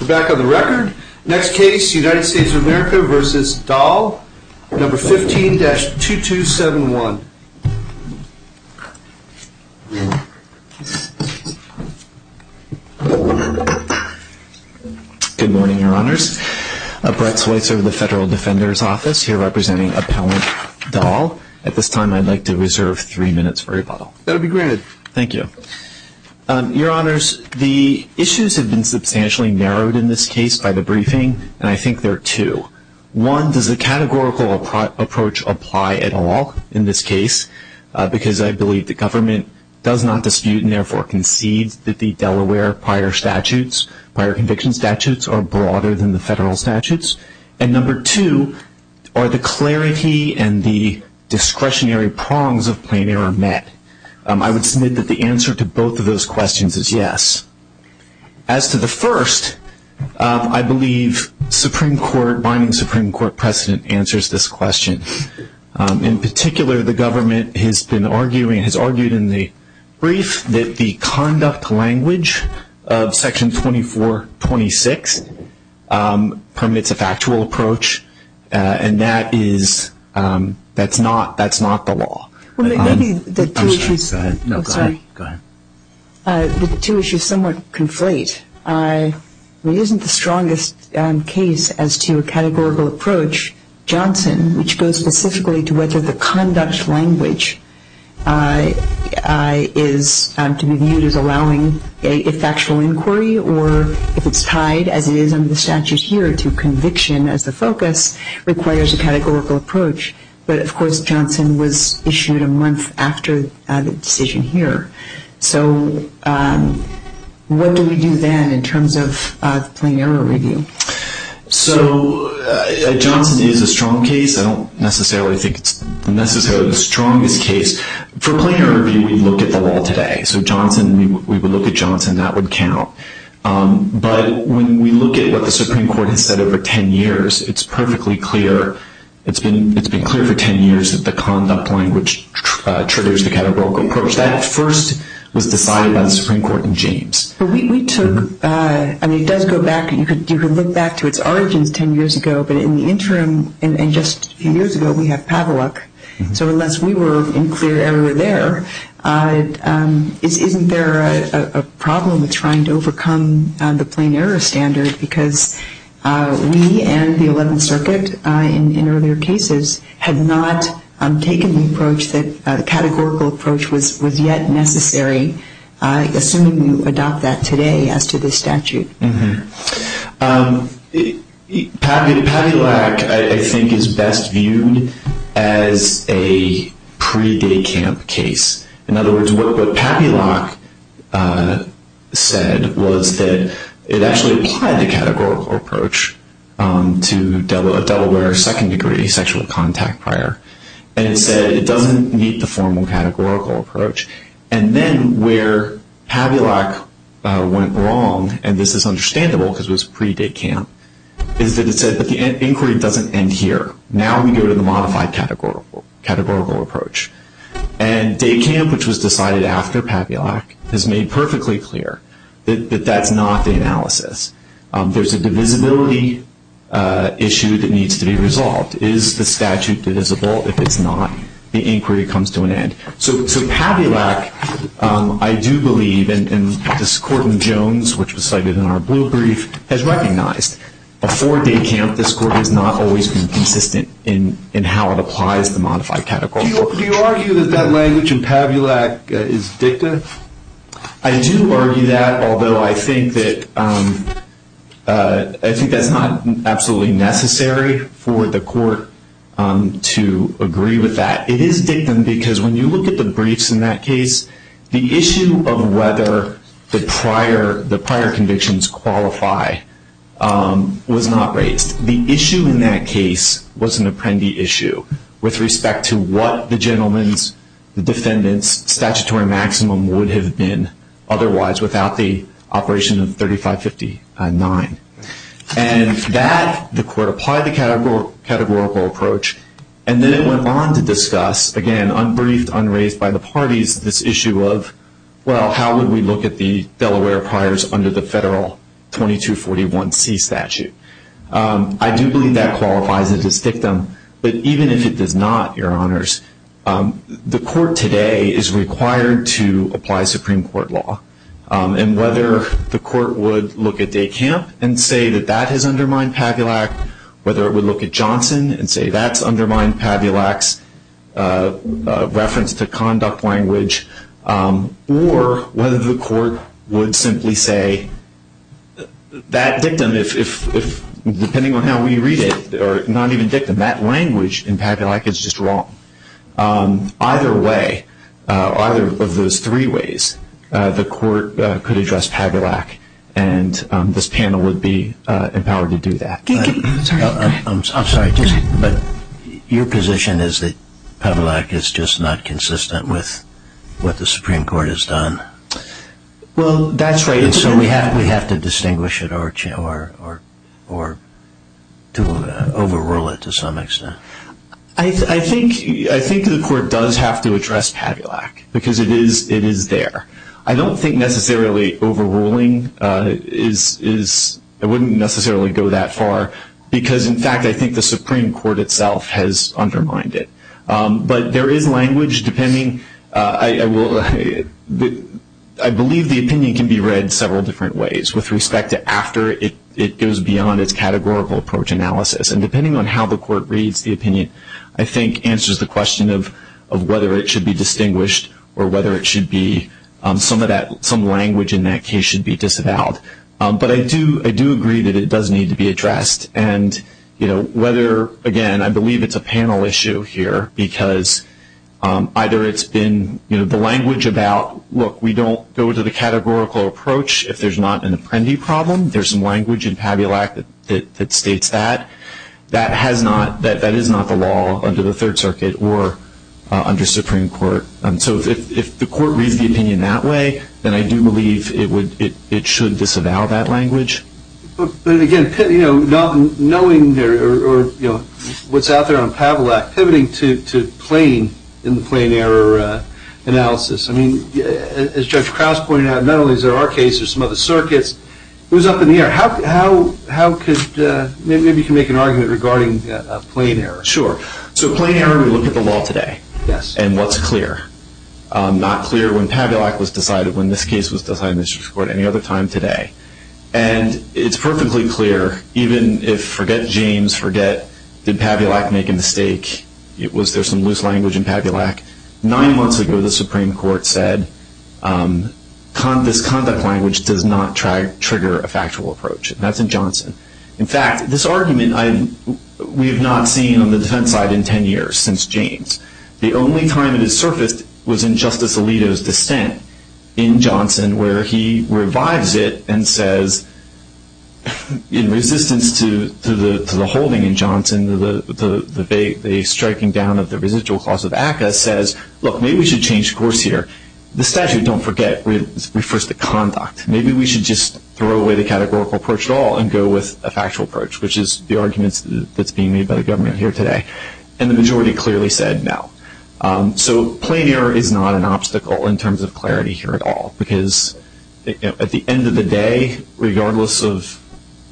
We're back on the record. Next case, United States of America v. Dahl, No. 15-2271. Good morning, Your Honors. Brett Switzer with the Federal Defender's Office, here representing Appellant Dahl. At this time, I'd like to reserve three minutes for rebuttal. That'll be granted. Thank you. Your Honors, the issues have been substantially narrowed in this case by the briefing, and I think there are two. One, does the categorical approach apply at all in this case? Because I believe the government does not dispute and therefore concedes that the Delaware prior statutes, prior conviction statutes, are broader than the federal statutes. And No. 2, are the clarity and the discretionary prongs of plain error met? I would submit that the answer to both of those questions is yes. As to the first, I believe binding Supreme Court precedent answers this question. In particular, the government has been arguing, has argued in the brief, that the conduct language of Section 2426 permits a factual approach, and that's not the law. Well, maybe the two issues somewhat conflate. It isn't the strongest case as to a categorical approach. Johnson, which goes specifically to whether the conduct language is to be viewed as allowing a factual inquiry, or if it's tied, as it is under the statute here, to conviction as the focus, requires a categorical approach. But, of course, Johnson was issued a month after the decision here. So what do we do then in terms of plain error review? So Johnson is a strong case. I don't necessarily think it's necessarily the strongest case. For plain error review, we look at the law today. So Johnson, we would look at Johnson. That would count. But when we look at what the Supreme Court has said over 10 years, it's perfectly clear. It's been clear for 10 years that the conduct language triggers the categorical approach. That, at first, was decided by the Supreme Court in James. But we took, I mean, it does go back, you could look back to its origins 10 years ago, but in the interim, and just a few years ago, we have Paveluk. So unless we were in clear error there, isn't there a problem with trying to overcome the plain error standard? Because we and the Eleventh Circuit, in earlier cases, had not taken the approach that the categorical approach was yet necessary, assuming you adopt that today as to this statute. Paveluk, I think, is best viewed as a pre-day camp case. In other words, what Paveluk said was that it actually applied the categorical approach to Delaware second-degree sexual contact prior. And it said it doesn't meet the formal categorical approach. And then where Paveluk went wrong, and this is understandable because it was pre-day camp, is that it said that the inquiry doesn't end here. Now we go to the modified categorical approach. And day camp, which was decided after Paveluk, has made perfectly clear that that's not the analysis. There's a divisibility issue that needs to be resolved. Is the statute divisible? If it's not, the inquiry comes to an end. So Paveluk, I do believe, and this Court in Jones, which was cited in our blue brief, has recognized, before day camp, this Court has not always been consistent in how it applies the modified categorical approach. Do you argue that that language in Paveluk is dictum? I do argue that, although I think that's not absolutely necessary for the Court to agree with that. It is dictum because when you look at the briefs in that case, the issue of whether the prior convictions qualify was not raised. The issue in that case was an apprendee issue with respect to what the gentleman's, the defendant's statutory maximum would have been otherwise without the operation of 3559. And that, the Court applied the categorical approach. And then it went on to discuss, again, unbriefed, unraised by the parties, this issue of, well, how would we look at the Delaware priors under the federal 2241C statute? I do believe that qualifies it as dictum. But even if it does not, Your Honors, the Court today is required to apply Supreme Court law. And whether the Court would look at day camp and say that that has undermined Paveluk, whether it would look at Johnson and say that's undermined Paveluk's reference to conduct language, or whether the Court would simply say that dictum, depending on how we read it, or not even dictum, that language in Paveluk is just wrong. Either way, either of those three ways, the Court could address Paveluk, and this panel would be empowered to do that. I'm sorry, but your position is that Paveluk is just not consistent with what the Supreme Court has done. Well, that's right. And so we have to distinguish it or to overrule it to some extent. I think the Court does have to address Paveluk because it is there. I don't think necessarily overruling wouldn't necessarily go that far because, in fact, I think the Supreme Court itself has undermined it. But there is language depending. I believe the opinion can be read several different ways with respect to after it goes beyond its categorical approach analysis. And depending on how the Court reads the opinion, I think, answers the question of whether it should be distinguished or whether some language in that case should be disavowed. But I do agree that it does need to be addressed. And whether, again, I believe it's a panel issue here because either it's been the language about, look, we don't go to the categorical approach if there's not an apprendi problem. There's some language in Paveluk that states that. That is not the law under the Third Circuit or under Supreme Court. So if the Court reads the opinion that way, then I do believe it should disavow that language. But, again, not knowing what's out there on Paveluk, pivoting to plain in the plain error analysis. I mean, as Judge Krauss pointed out, not only is there our case, there's some other circuits. It was up in the air. Maybe you can make an argument regarding plain error. Sure. So plain error, we look at the law today and what's clear. Not clear when Paveluk was decided, when this case was decided in the Supreme Court, any other time today. And it's perfectly clear, even if forget James, forget did Paveluk make a mistake, was there some loose language in Paveluk. Nine months ago the Supreme Court said this conduct language does not trigger a factual approach. That's in Johnson. In fact, this argument we have not seen on the defense side in 10 years, since James. The only time it has surfaced was in Justice Alito's dissent in Johnson, where he revives it and says, in resistance to the holding in Johnson, the striking down of the residual clause of ACCA says, look, maybe we should change course here. The statute, don't forget, refers to conduct. Maybe we should just throw away the categorical approach at all and go with a factual approach, which is the argument that's being made by the government here today. And the majority clearly said no. So plain error is not an obstacle in terms of clarity here at all, because at the end of the day, regardless of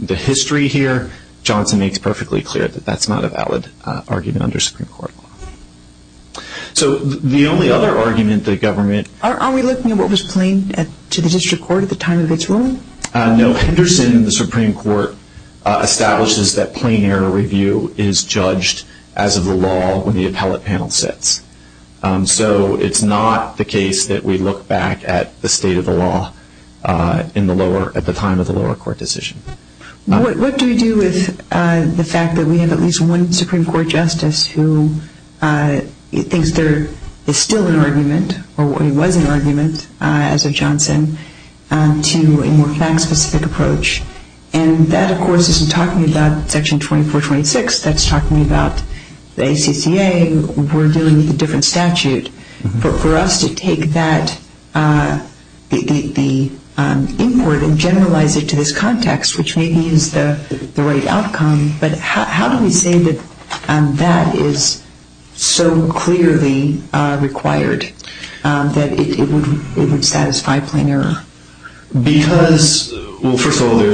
the history here, Johnson makes perfectly clear that that's not a valid argument under Supreme Court law. So the only other argument the government... Are we looking at what was plain to the district court at the time of its ruling? No. Henderson, the Supreme Court, establishes that plain error review is judged as of the law when the appellate panel sits. So it's not the case that we look back at the state of the law at the time of the lower court decision. What do we do with the fact that we have at least one Supreme Court justice who thinks there is still an argument, or there was an argument as of Johnson, to a more fact-specific approach? And that, of course, isn't talking about Section 2426. That's talking about the ACCA. We're dealing with a different statute. For us to take that input and generalize it to this context, which maybe is the right outcome, but how do we say that that is so clearly required that it would satisfy plain error? Because, well, first of all, we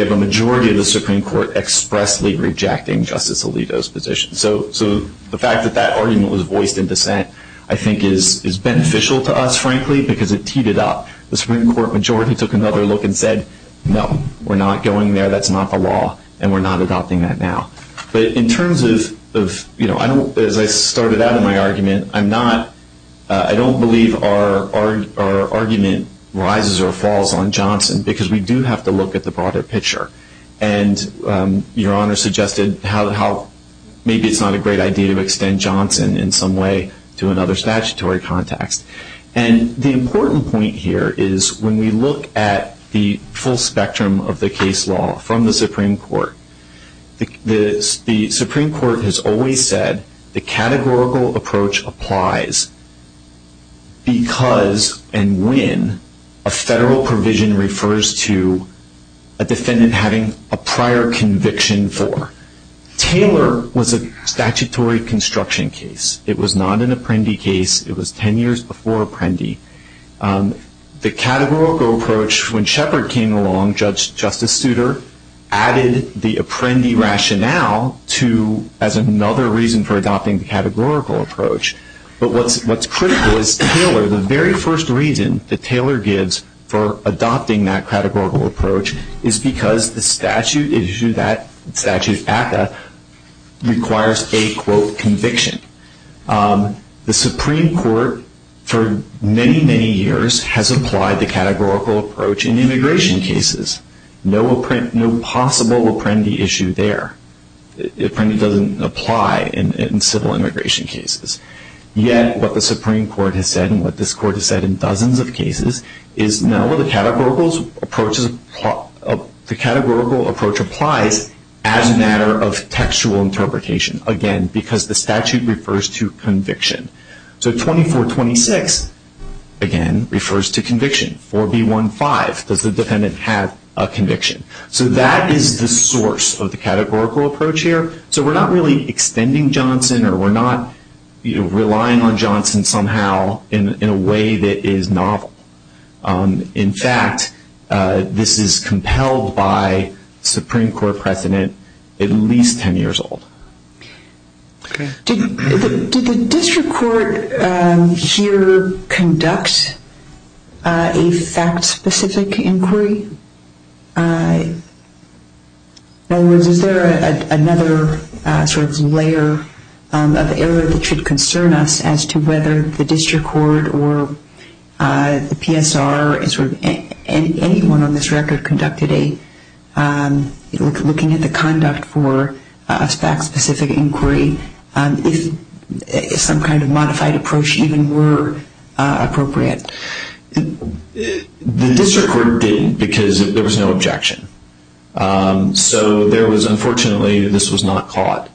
have a majority of the Supreme Court expressly rejecting Justice Alito's position. So the fact that that argument was voiced in dissent I think is beneficial to us, frankly, because it teed it up. The Supreme Court majority took another look and said, no, we're not going there. That's not the law, and we're not adopting that now. But in terms of, as I started out in my argument, I don't believe our argument rises or falls on Johnson because we do have to look at the broader picture. And Your Honor suggested maybe it's not a great idea to extend Johnson in some way to another statutory context. And the important point here is when we look at the full spectrum of the case law from the Supreme Court, the Supreme Court has always said the categorical approach applies because and when a federal provision refers to a defendant having a prior conviction for. Taylor was a statutory construction case. It was not an apprendi case. It was 10 years before apprendi. The categorical approach, when Shepard came along, Justice Souter added the apprendi rationale as another reason for adopting the categorical approach. But what's critical is Taylor, the very first reason that Taylor gives for adopting that categorical approach is because the statute at that requires a, quote, conviction. The Supreme Court for many, many years has applied the categorical approach in immigration cases. No possible apprendi issue there. Apprendi doesn't apply in civil immigration cases. Yet what the Supreme Court has said and what this Court has said in dozens of cases is no, the categorical approach applies as a matter of textual interpretation. Again, because the statute refers to conviction. So 2426, again, refers to conviction. 4B15, does the defendant have a conviction? So that is the source of the categorical approach here. So we're not really extending Johnson or we're not relying on Johnson somehow in a way that is novel. In fact, this is compelled by Supreme Court precedent at least 10 years old. Did the district court here conduct a fact-specific inquiry? In other words, is there another sort of layer of error that should concern us as to whether the district court or the PSR and sort of anyone on this record conducted a, looking at the conduct for a fact-specific inquiry, if some kind of modified approach even were appropriate? The district court didn't because there was no objection. So there was unfortunately, this was not caught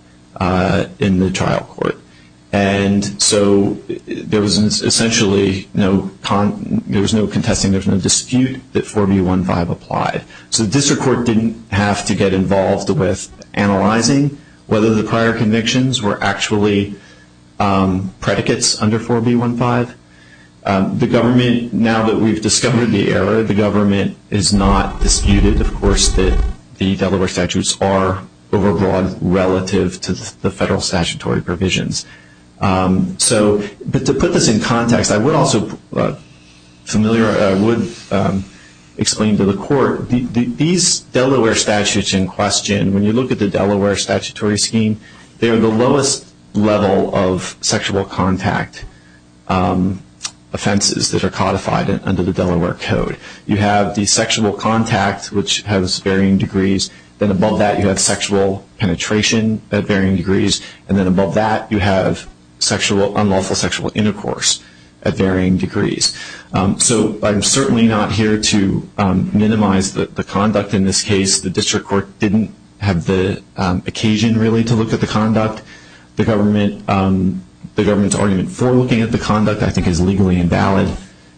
in the trial court. And so there was essentially no, there was no contesting, there was no dispute that 4B15 applied. So the district court didn't have to get involved with analyzing whether the prior convictions were actually predicates under 4B15. The government, now that we've discovered the error, the government has not disputed, of course, that the Delaware statutes are overbroad relative to the federal statutory provisions. So to put this in context, I would also explain to the court, these Delaware statutes in question, when you look at the Delaware statutory scheme, they are the lowest level of sexual contact offenses that are codified under the Delaware Code. You have the sexual contact, which has varying degrees, then above that you have sexual penetration at varying degrees, and then above that you have sexual, unlawful sexual intercourse at varying degrees. So I'm certainly not here to minimize the conduct in this case. The district court didn't have the occasion really to look at the conduct. The government, the government's argument for looking at the conduct I think is legally invalid.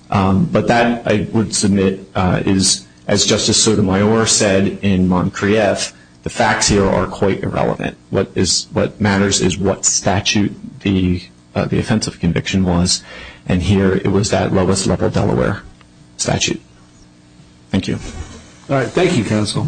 But that, I would submit, is, as Justice Sotomayor said in Montcrieff, the facts here are quite irrelevant. What matters is what statute the offensive conviction was, and here it was that lowest level Delaware statute. Thank you. All right. Thank you, Counsel.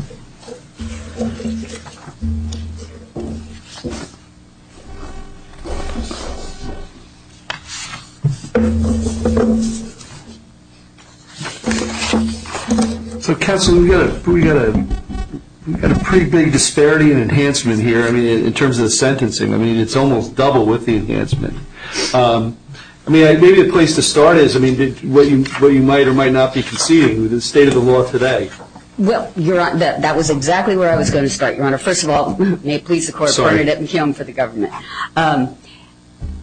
So, Counsel, we've got a pretty big disparity in enhancement here in terms of the sentencing. I mean, it's almost double with the enhancement. I mean, maybe the place to start is, I mean, what you might or might not be conceding with the state of the law today. Well, Your Honor, that was exactly where I was going to start, Your Honor. First of all, may it please the Court. Sorry. Pardon it. I'm here for the government.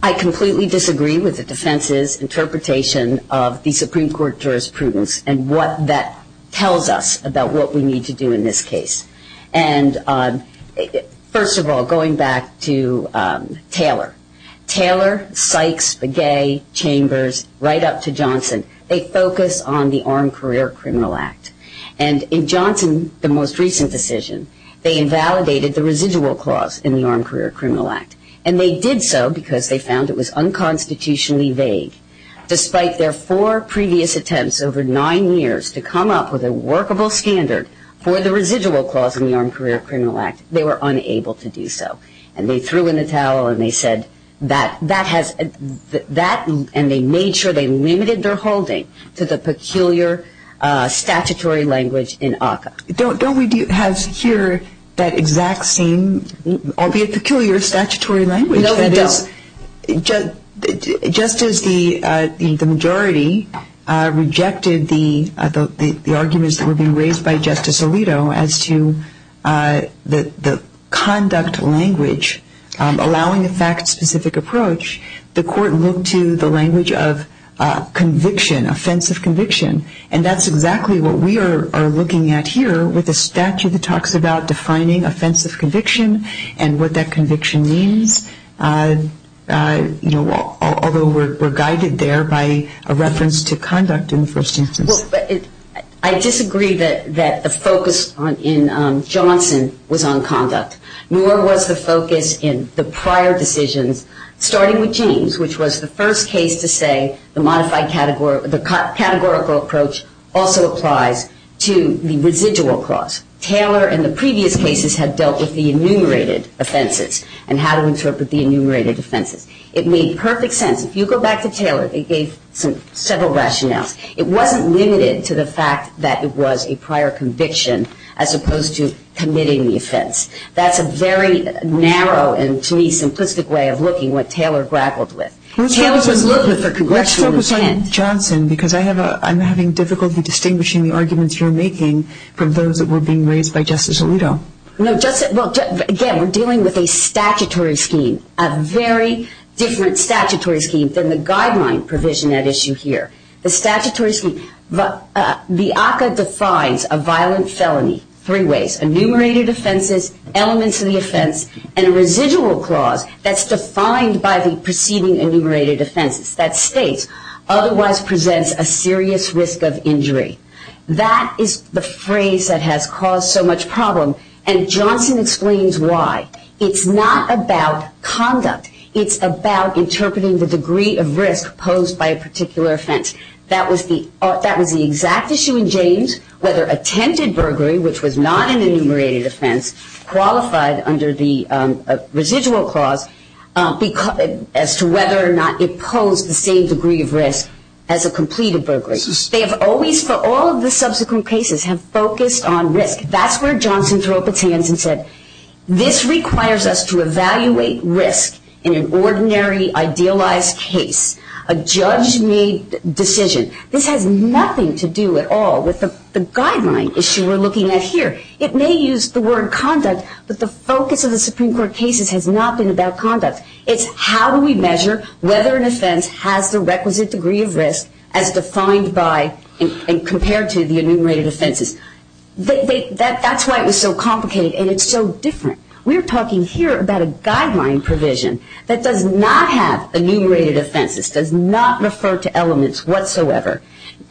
I completely disagree with the defense's interpretation of the Supreme Court jurisprudence and what that tells us about what we need to do in this case. And first of all, going back to Taylor. Taylor, Sykes, Begay, Chambers, right up to Johnson, they focus on the Armed Career Criminal Act. And in Johnson, the most recent decision, they invalidated the residual clause in the Armed Career Criminal Act. And they did so because they found it was unconstitutionally vague. Despite their four previous attempts over nine years to come up with a workable standard for the residual clause in the Armed Career Criminal Act, they were unable to do so. And they threw in the towel and they said that has – and they made sure they limited their holding to the peculiar statutory language in ACCA. Don't we have here that exact same, albeit peculiar, statutory language? No, we don't. Just as the majority rejected the arguments that were being raised by Justice Alito as to the conduct language allowing a fact-specific approach, the Court looked to the language of conviction, offensive conviction. And that's exactly what we are looking at here with the statute that talks about defining offensive conviction and what that conviction means, although we're guided there by a reference to conduct in the first instance. I disagree that the focus in Johnson was on conduct, nor was the focus in the prior decisions starting with James, which was the first case to say the categorical approach also applies to the residual clause. Taylor in the previous cases had dealt with the enumerated offenses and how to interpret the enumerated offenses. It made perfect sense. If you go back to Taylor, they gave several rationales. It wasn't limited to the fact that it was a prior conviction as opposed to committing the offense. That's a very narrow and, to me, simplistic way of looking at what Taylor grappled with. Let's focus on Johnson because I'm having difficulty distinguishing the arguments you're making from those that were being raised by Justice Alito. Again, we're dealing with a statutory scheme, a very different statutory scheme than the guideline provision at issue here. The statutory scheme, the ACCA defines a violent felony three ways, enumerated offenses, elements of the offense, and a residual clause that's defined by the preceding enumerated offenses that states otherwise presents a serious risk of injury. That is the phrase that has caused so much problem, and Johnson explains why. It's not about conduct. It's about interpreting the degree of risk posed by a particular offense. That was the exact issue in James, whether attempted burglary, which was not an enumerated offense, qualified under the residual clause as to whether or not it posed the same degree of risk as a completed burglary. They have always, for all of the subsequent cases, have focused on risk. That's where Johnson threw up its hands and said, this requires us to evaluate risk in an ordinary, idealized case, a judge-made decision. This has nothing to do at all with the guideline issue we're looking at here. It may use the word conduct, but the focus of the Supreme Court cases has not been about conduct. It's how do we measure whether an offense has the requisite degree of risk as defined by and compared to the enumerated offenses. That's why it was so complicated, and it's so different. We're talking here about a guideline provision that does not have enumerated offenses, does not refer to elements whatsoever,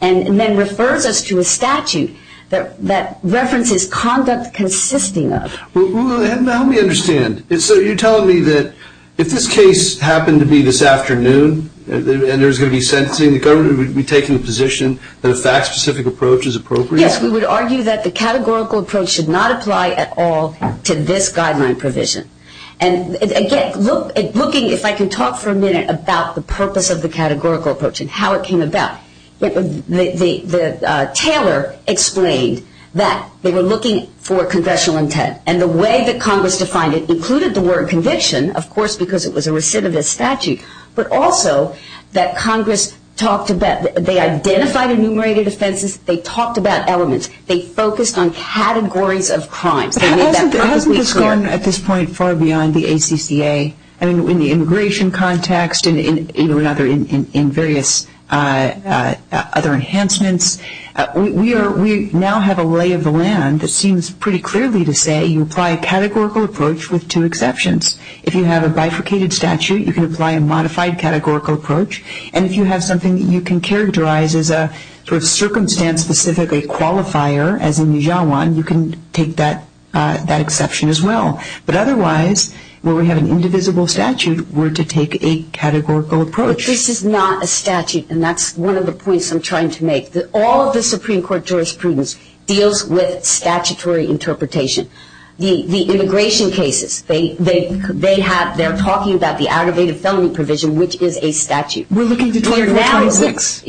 and then refers us to a statute that references conduct consisting of. Well, help me understand. So you're telling me that if this case happened to be this afternoon and there was going to be sentencing, the government would be taking the position that a fact-specific approach is appropriate? Yes, we would argue that the categorical approach should not apply at all to this guideline provision. And, again, looking, if I can talk for a minute about the purpose of the categorical approach and how it came about, the tailor explained that they were looking for confessional intent, and the way that Congress defined it included the word conviction, of course, because it was a recidivist statute, but also that Congress talked about, they identified enumerated offenses, they talked about elements, they focused on categories of crimes. But hasn't this gone, at this point, far beyond the ACCA? I mean, in the immigration context and in various other enhancements, we now have a lay of the land that seems pretty clearly to say you apply a categorical approach with two exceptions. If you have a bifurcated statute, you can apply a modified categorical approach, and if you have something that you can characterize as a sort of circumstance-specific qualifier, as in Yijiawan, you can take that exception as well. But otherwise, where we have an indivisible statute, we're to take a categorical approach. But this is not a statute, and that's one of the points I'm trying to make. All of the Supreme Court jurisprudence deals with statutory interpretation. The immigration cases, they're talking about the aggravated felony provision, which is a statute. We're looking to declare you a 26.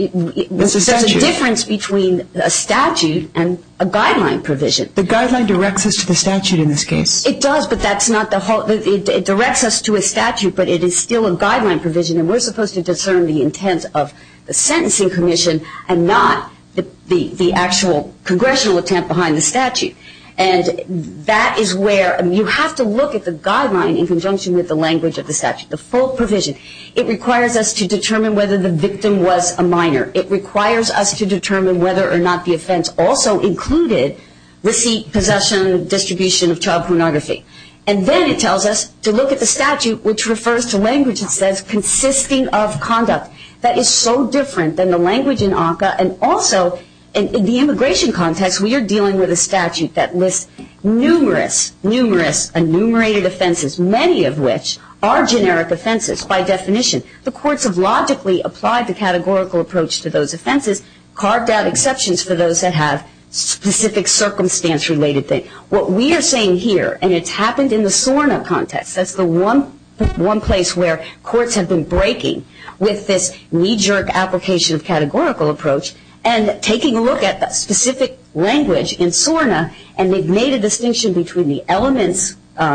There's a difference between a statute and a guideline provision. The guideline directs us to the statute in this case. It does, but that's not the whole. It directs us to a statute, but it is still a guideline provision, and we're supposed to discern the intent of the sentencing commission and not the actual congressional attempt behind the statute. And that is where you have to look at the guideline in conjunction with the language of the statute, the full provision. It requires us to determine whether the victim was a minor. It requires us to determine whether or not the offense also included receipt, possession, distribution of child pornography. And then it tells us to look at the statute, which refers to language that says consisting of conduct. That is so different than the language in ACCA, and also in the immigration context, we are dealing with a statute that lists numerous, numerous enumerated offenses, many of which are generic offenses by definition. The courts have logically applied the categorical approach to those offenses, carved out exceptions for those that have specific circumstance-related things. What we are saying here, and it's happened in the SORNA context, that's the one place where courts have been breaking with this knee-jerk application of categorical approach and taking a look at the specific language in SORNA and they've made a distinction between the elements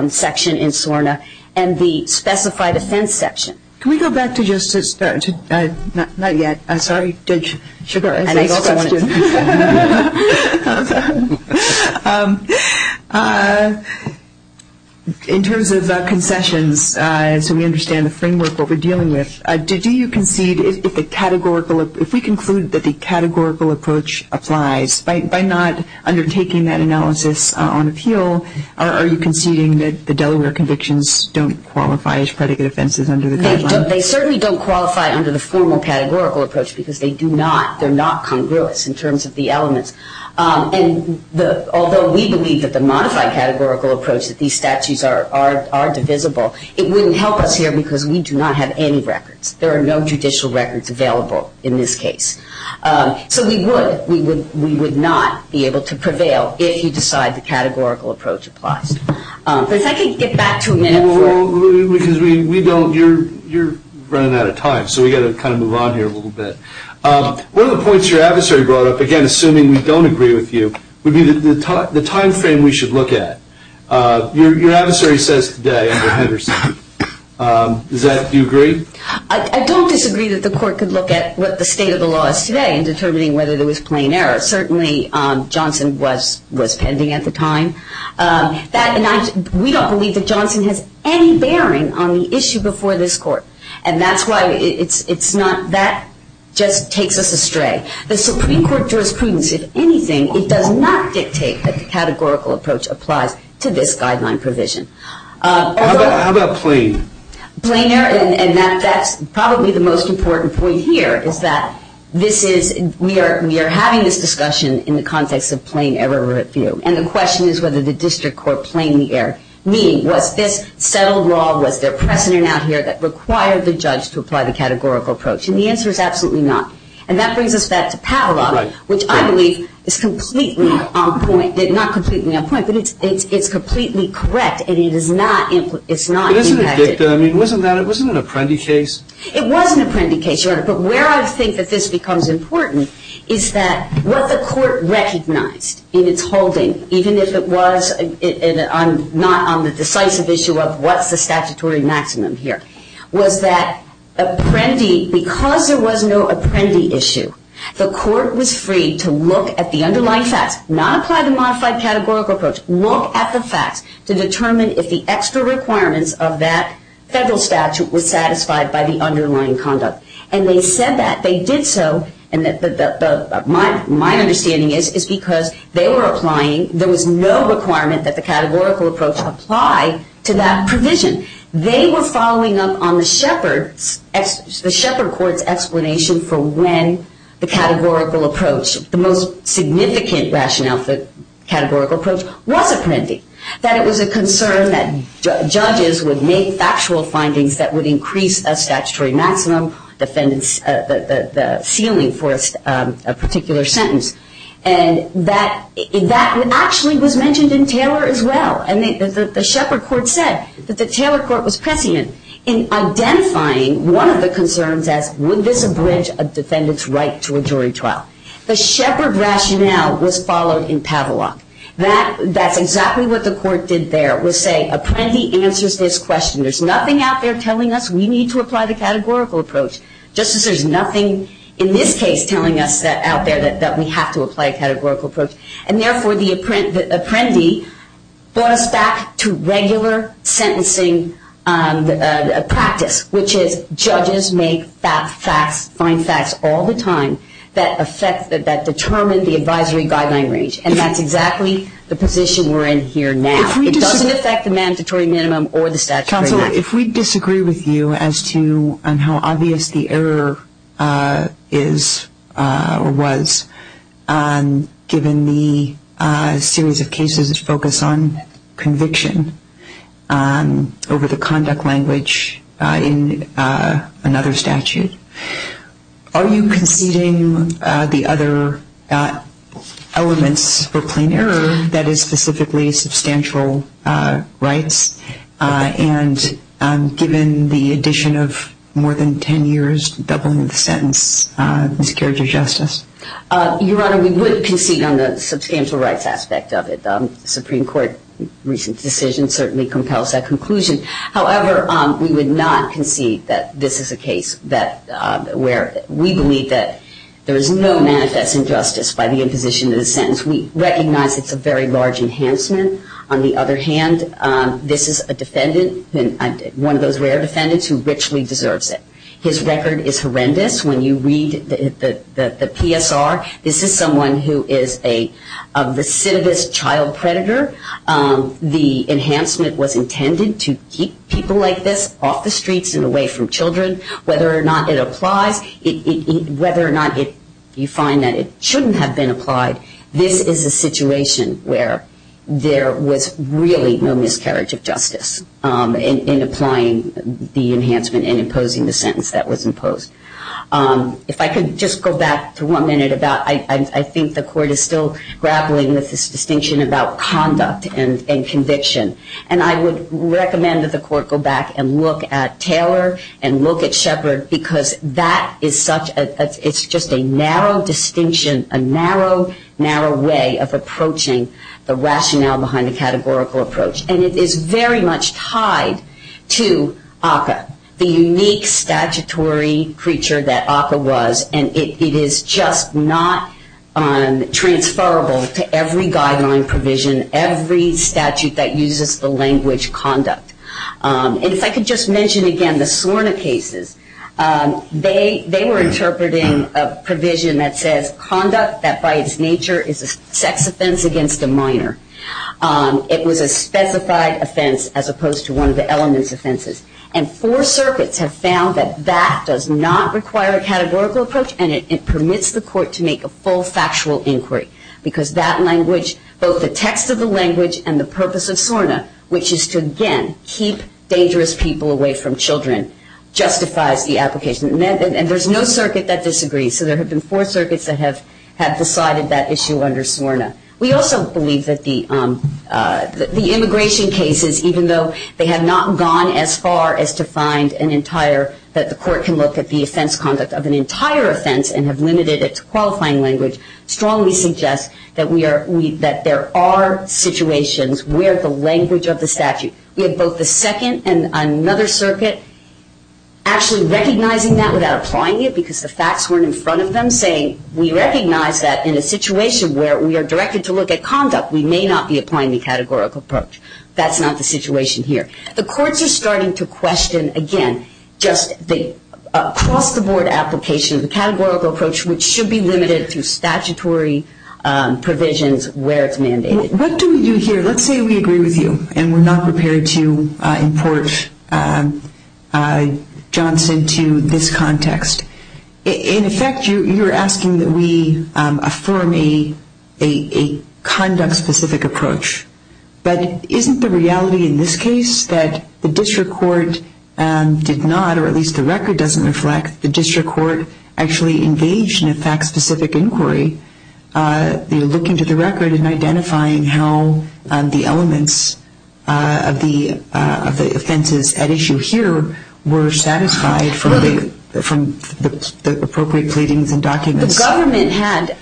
section in SORNA and the specified offense section. Can we go back to just to start? Not yet. I'm sorry, Judge Sugar. I have a question. In terms of concessions, so we understand the framework of what we're dealing with, do you concede if the categorical, if we conclude that the categorical approach applies, by not undertaking that analysis on appeal, are you conceding that the Delaware convictions don't qualify as predicate offenses under the guidelines? They certainly don't qualify under the formal categorical approach because they do not, they're not congruous in terms of the elements. And although we believe that the modified categorical approach, that these statutes are divisible, it wouldn't help us here because we do not have any records. There are no judicial records available in this case. So we would not be able to prevail if you decide the categorical approach applies. But if I could get back to a minute. Well, because we don't, you're running out of time, so we've got to kind of move on here a little bit. One of the points your adversary brought up, again, assuming we don't agree with you, would be the time frame we should look at. Your adversary says today under Henderson, do you agree? I don't disagree that the court could look at what the state of the law is today in determining whether there was plain error. Certainly Johnson was pending at the time. We don't believe that Johnson has any bearing on the issue before this court. And that's why it's not, that just takes us astray. The Supreme Court jurisprudence, if anything, it does not dictate that the categorical approach applies to this guideline provision. How about plain? Plain error, and that's probably the most important point here, is that this is, we are having this discussion in the context of plain error review. And the question is whether the district court plain error meeting, was this settled law, was there precedent out here that required the judge to apply the categorical approach? And the answer is absolutely not. And that brings us back to Pavlov, which I believe is completely on point, not completely on point, but it's completely correct. And it is not, it's not impacted. It wasn't an Apprendi case. It was an Apprendi case, Your Honor, but where I think that this becomes important is that what the court recognized in its holding, even if it was not on the decisive issue of what's the statutory maximum here, was that Apprendi, because there was no Apprendi issue, the court was free to look at the underlying facts, not apply the modified categorical approach, look at the facts to determine if the extra requirements of that federal statute was satisfied by the underlying conduct. And they said that, they did so, and my understanding is, is because they were applying, there was no requirement that the categorical approach apply to that provision. They were following up on the shepherd's, the shepherd court's explanation for when the categorical approach, the most significant rationale for the categorical approach was Apprendi, that it was a concern that judges would make factual findings that would increase a statutory maximum, the ceiling for a particular sentence. And that actually was mentioned in Taylor as well. And the shepherd court said that the Taylor court was prescient in identifying one of the concerns as, would this abridge a defendant's right to a jury trial? The shepherd rationale was followed in Pavlov. That's exactly what the court did there, was say Apprendi answers this question. There's nothing out there telling us we need to apply the categorical approach, just as there's nothing in this case telling us out there that we have to apply a categorical approach. And therefore, the Apprendi brought us back to regular sentencing practice, which is judges make facts, find facts all the time that affect, that determine the advisory guideline range. And that's exactly the position we're in here now. It doesn't affect the mandatory minimum or the statutory maximum. Counselor, if we disagree with you as to how obvious the error is or was, given the series of cases that focus on conviction over the conduct language in another statute, are you conceding the other elements for plain error, that is specifically substantial rights, and given the addition of more than 10 years doubling the sentence, this carries your justice? Your Honor, we would concede on the substantial rights aspect of it. The Supreme Court recent decision certainly compels that conclusion. However, we would not concede that this is a case where we believe that there is no manifest injustice by the imposition of the sentence. We recognize it's a very large enhancement. On the other hand, this is a defendant, one of those rare defendants, who richly deserves it. His record is horrendous. When you read the PSR, this is someone who is a recidivist child predator. The enhancement was intended to keep people like this off the streets and away from children. Whether or not it applies, whether or not you find that it shouldn't have been applied, this is a situation where there was really no miscarriage of justice in applying the enhancement and imposing the sentence that was imposed. If I could just go back to one minute about, I think the Court is still grappling with this distinction about conduct and conviction. And I would recommend that the Court go back and look at Taylor and look at Shepard because that is such a, it's just a narrow distinction, a narrow, narrow way of approaching the rationale behind a categorical approach. And it is very much tied to ACCA, the unique statutory creature that ACCA was. And it is just not transferable to every guideline provision, every statute that uses the language conduct. And if I could just mention again the SORNA cases, they were interpreting a provision that says conduct that by its nature is a sex offense against a minor. It was a specified offense as opposed to one of the elements offenses. And four circuits have found that that does not require a categorical approach and it permits the Court to make a full factual inquiry because that language, both the text of the language and the purpose of SORNA, which is to again keep dangerous people away from children, justifies the application. And there's no circuit that disagrees. So there have been four circuits that have decided that issue under SORNA. We also believe that the immigration cases, even though they have not gone as far as to find an entire, that the Court can look at the offense conduct of an entire offense and have limited it to qualifying language, strongly suggests that there are situations where the language of the statute, we have both the second and another circuit actually recognizing that without applying it because the facts weren't in front of them, we recognize that in a situation where we are directed to look at conduct, we may not be applying the categorical approach. That's not the situation here. The courts are starting to question, again, just the across-the-board application of the categorical approach which should be limited to statutory provisions where it's mandated. What do we do here? Let's say we agree with you and we're not prepared to import Johnson to this context. In effect, you're asking that we affirm a conduct-specific approach. But isn't the reality in this case that the district court did not, or at least the record doesn't reflect, the district court actually engaged in a fact-specific inquiry, looking to the record and identifying how the elements of the offenses at issue here were satisfied from the appropriate pleadings and documents? The government had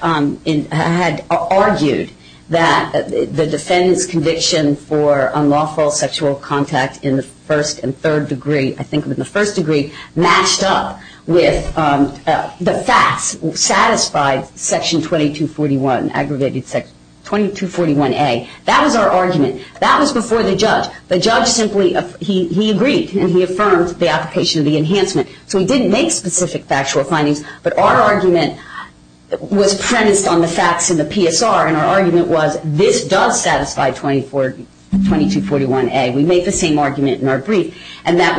argued that the defendant's conviction for unlawful sexual contact in the first and third degree, I think in the first degree, matched up with the facts satisfied Section 2241A. That was our argument. That was before the judge. The judge agreed and he affirmed the application of the enhancement. So he didn't make specific factual findings, but our argument was premised on the facts in the PSR, and our argument was this does satisfy 2241A. We make the same argument in our brief, and that's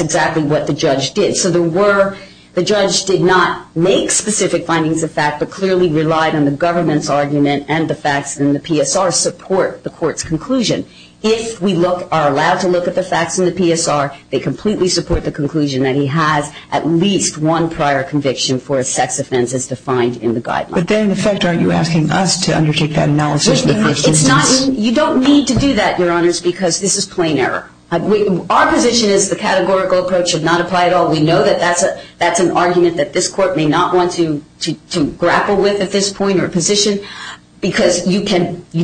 exactly what the judge did. So the judge did not make specific findings of fact but clearly relied on the government's argument and the facts in the PSR support the court's conclusion. If we are allowed to look at the facts in the PSR, they completely support the conclusion that he has at least one prior conviction for a sex offense as defined in the guidelines. But then, in effect, aren't you asking us to undertake that analysis in the first instance? You don't need to do that, Your Honors, because this is plain error. Our position is the categorical approach should not apply at all. We know that that's an argument that this court may not want to grapple with at this point or position, because you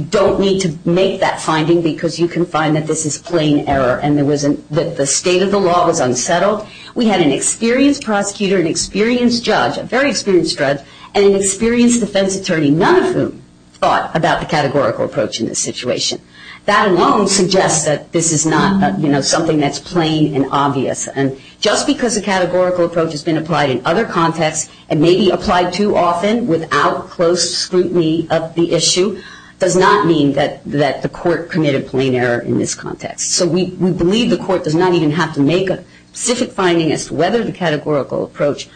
don't need to make that finding because you can find that this is plain error and that the state of the law was unsettled. We had an experienced prosecutor, an experienced judge, a very experienced judge, and an experienced defense attorney, none of whom thought about the categorical approach in this situation. That alone suggests that this is not something that's plain and obvious, and just because a categorical approach has been applied in other contexts and may be applied too often without close scrutiny of the issue does not mean that the court committed plain error in this context. So we believe the court does not even have to make a specific finding as to whether the categorical approach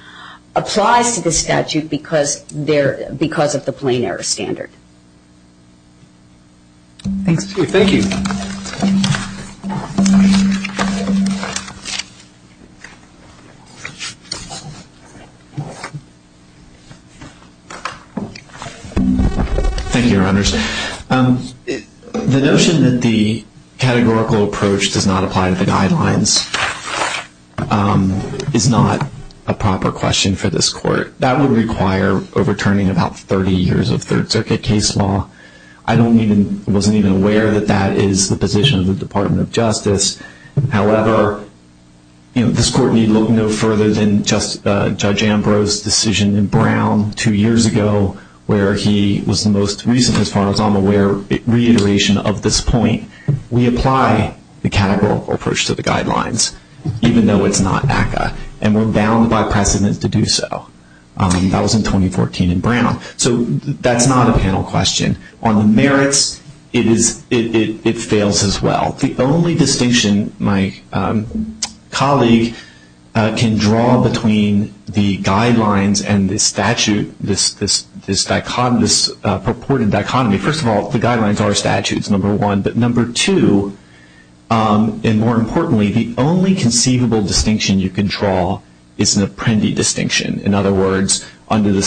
applies to this statute because of the plain error standard. Thank you. Thank you. Thank you, Your Honors. The notion that the categorical approach does not apply to the guidelines is not a proper question for this court. That would require overturning about 30 years of Third Circuit case law. I wasn't even aware that that is the position of the Department of Justice. However, this court need look no further than Judge Ambrose's decision in Brown two years ago, where he was the most recent, as far as I'm aware, reiteration of this point. We apply the categorical approach to the guidelines, even though it's not ACCA, and we're bound by precedent to do so. That was in 2014 in Brown. So that's not a panel question. On the merits, it fails as well. The only distinction my colleague can draw between the guidelines and the statute, this purported dichotomy, first of all, the guidelines are statutes, number one, but number two, and more importantly, the only conceivable distinction you can draw is an Apprendi distinction. In other words, under the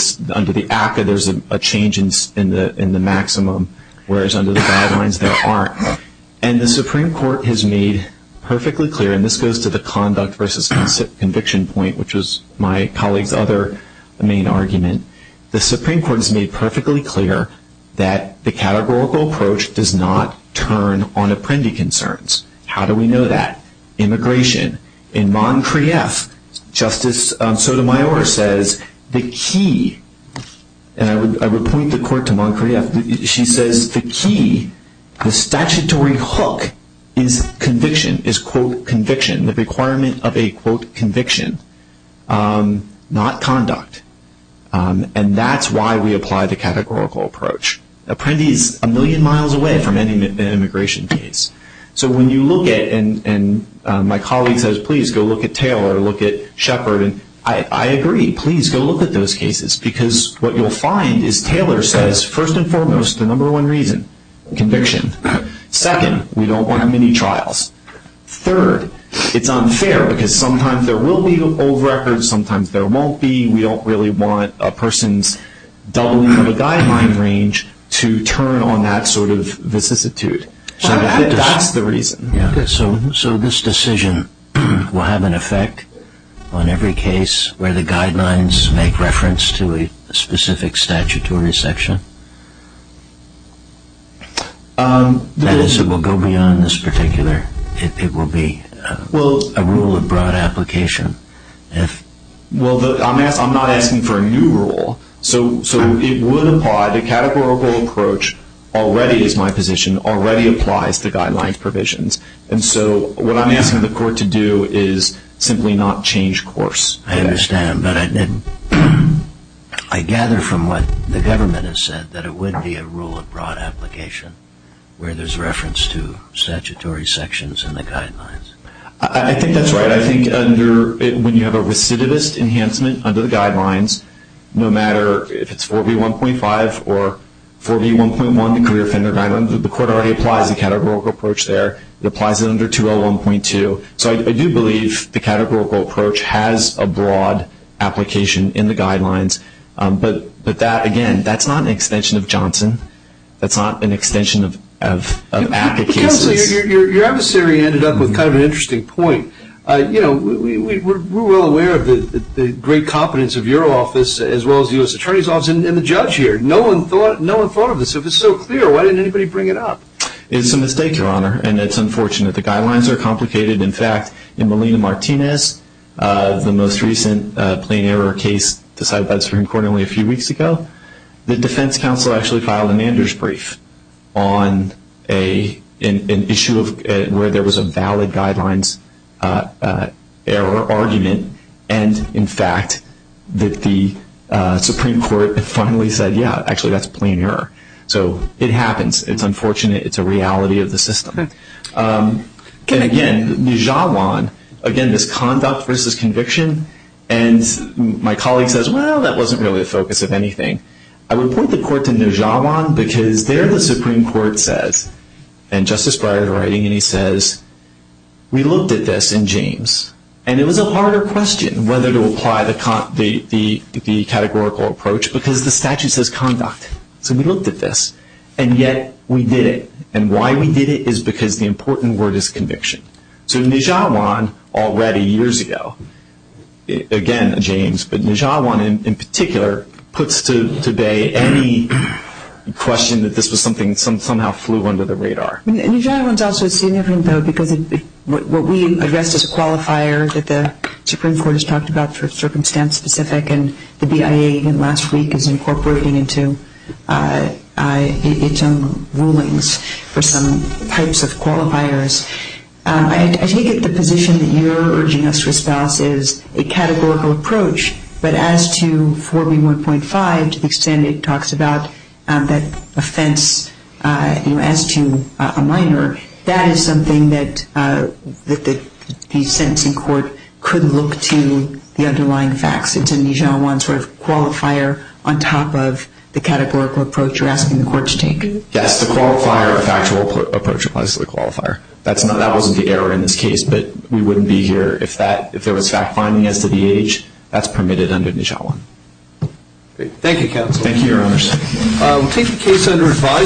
ACCA, there's a change in the maximum, whereas under the guidelines, there aren't. And the Supreme Court has made perfectly clear, and this goes to the conduct versus conviction point, which was my colleague's other main argument. The Supreme Court has made perfectly clear that the categorical approach does not turn on Apprendi concerns. How do we know that? Immigration. In Montcrieff, Justice Sotomayor says the key, and I would point the court to Montcrieff, she says the key, the statutory hook is conviction, is, quote, conviction, the requirement of a, quote, conviction, not conduct. And that's why we apply the categorical approach. Apprendi is a million miles away from any immigration case. So when you look at, and my colleague says, please go look at Taylor, look at Shepard, and I agree, please go look at those cases, because what you'll find is Taylor says, first and foremost, the number one reason, conviction. Second, we don't want mini-trials. Third, it's unfair, because sometimes there will be old records, sometimes there won't be. We don't really want a person's doubling of a guideline range to turn on that sort of vicissitude. That's the reason. So this decision will have an effect on every case where the guidelines make reference to a specific statutory section? That is, it will go beyond this particular, it will be a rule of broad application? Well, I'm not asking for a new rule. So it would apply, the categorical approach already is my position, already applies to guidelines provisions. And so what I'm asking the court to do is simply not change course. I understand, but I gather from what the government has said that it would be a rule of broad application where there's reference to statutory sections in the guidelines. I think that's right. I think when you have a recidivist enhancement under the guidelines, no matter if it's 4B1.5 or 4B1.1, the career offender guidelines, the court already applies the categorical approach there. It applies it under 201.2. So I do believe the categorical approach has a broad application in the guidelines. But that, again, that's not an extension of Johnson. That's not an extension of APCA cases. Counsel, your adversary ended up with kind of an interesting point. You know, we're well aware of the great competence of your office as well as the U.S. Attorney's Office and the judge here. No one thought of this. If it's so clear, why didn't anybody bring it up? It's a mistake, Your Honor, and it's unfortunate. The guidelines are complicated. In fact, in Melina Martinez, the most recent plain error case decided by the Supreme Court only a few weeks ago, the defense counsel actually filed a manager's brief on an issue where there was a valid guidelines error argument and, in fact, that the Supreme Court finally said, yeah, actually that's a plain error. So it happens. It's unfortunate. It's a reality of the system. And, again, Nijawan, again, this conduct versus conviction, and my colleague says, well, that wasn't really the focus of anything. I would point the court to Nijawan because there the Supreme Court says, and Justice Breyer is writing, and he says, we looked at this in James, and it was a harder question whether to apply the categorical approach because the statute says conduct. So we looked at this, and yet we did it. And why we did it is because the important word is conviction. So Nijawan, already years ago, again, James, but Nijawan in particular puts to bay any question that this was something that somehow flew under the radar. Nijawan is also significant, though, because what we addressed as a qualifier that the Supreme Court has talked about for circumstance specific and the BIA even last week is incorporating into its own rulings for some types of qualifiers. I take it the position that you're urging us to espouse is a categorical approach, but as to 4B1.5, to the extent it talks about that offense as to a minor, that is something that the sentencing court could look to the underlying facts. It's a Nijawan sort of qualifier on top of the categorical approach you're asking the court to take. Yes, the qualifier, the factual approach applies to the qualifier. That wasn't the error in this case, but we wouldn't be here if there was fact-finding as to the age. That's permitted under Nijawan. Thank you, counsel. Thank you, Your Honors.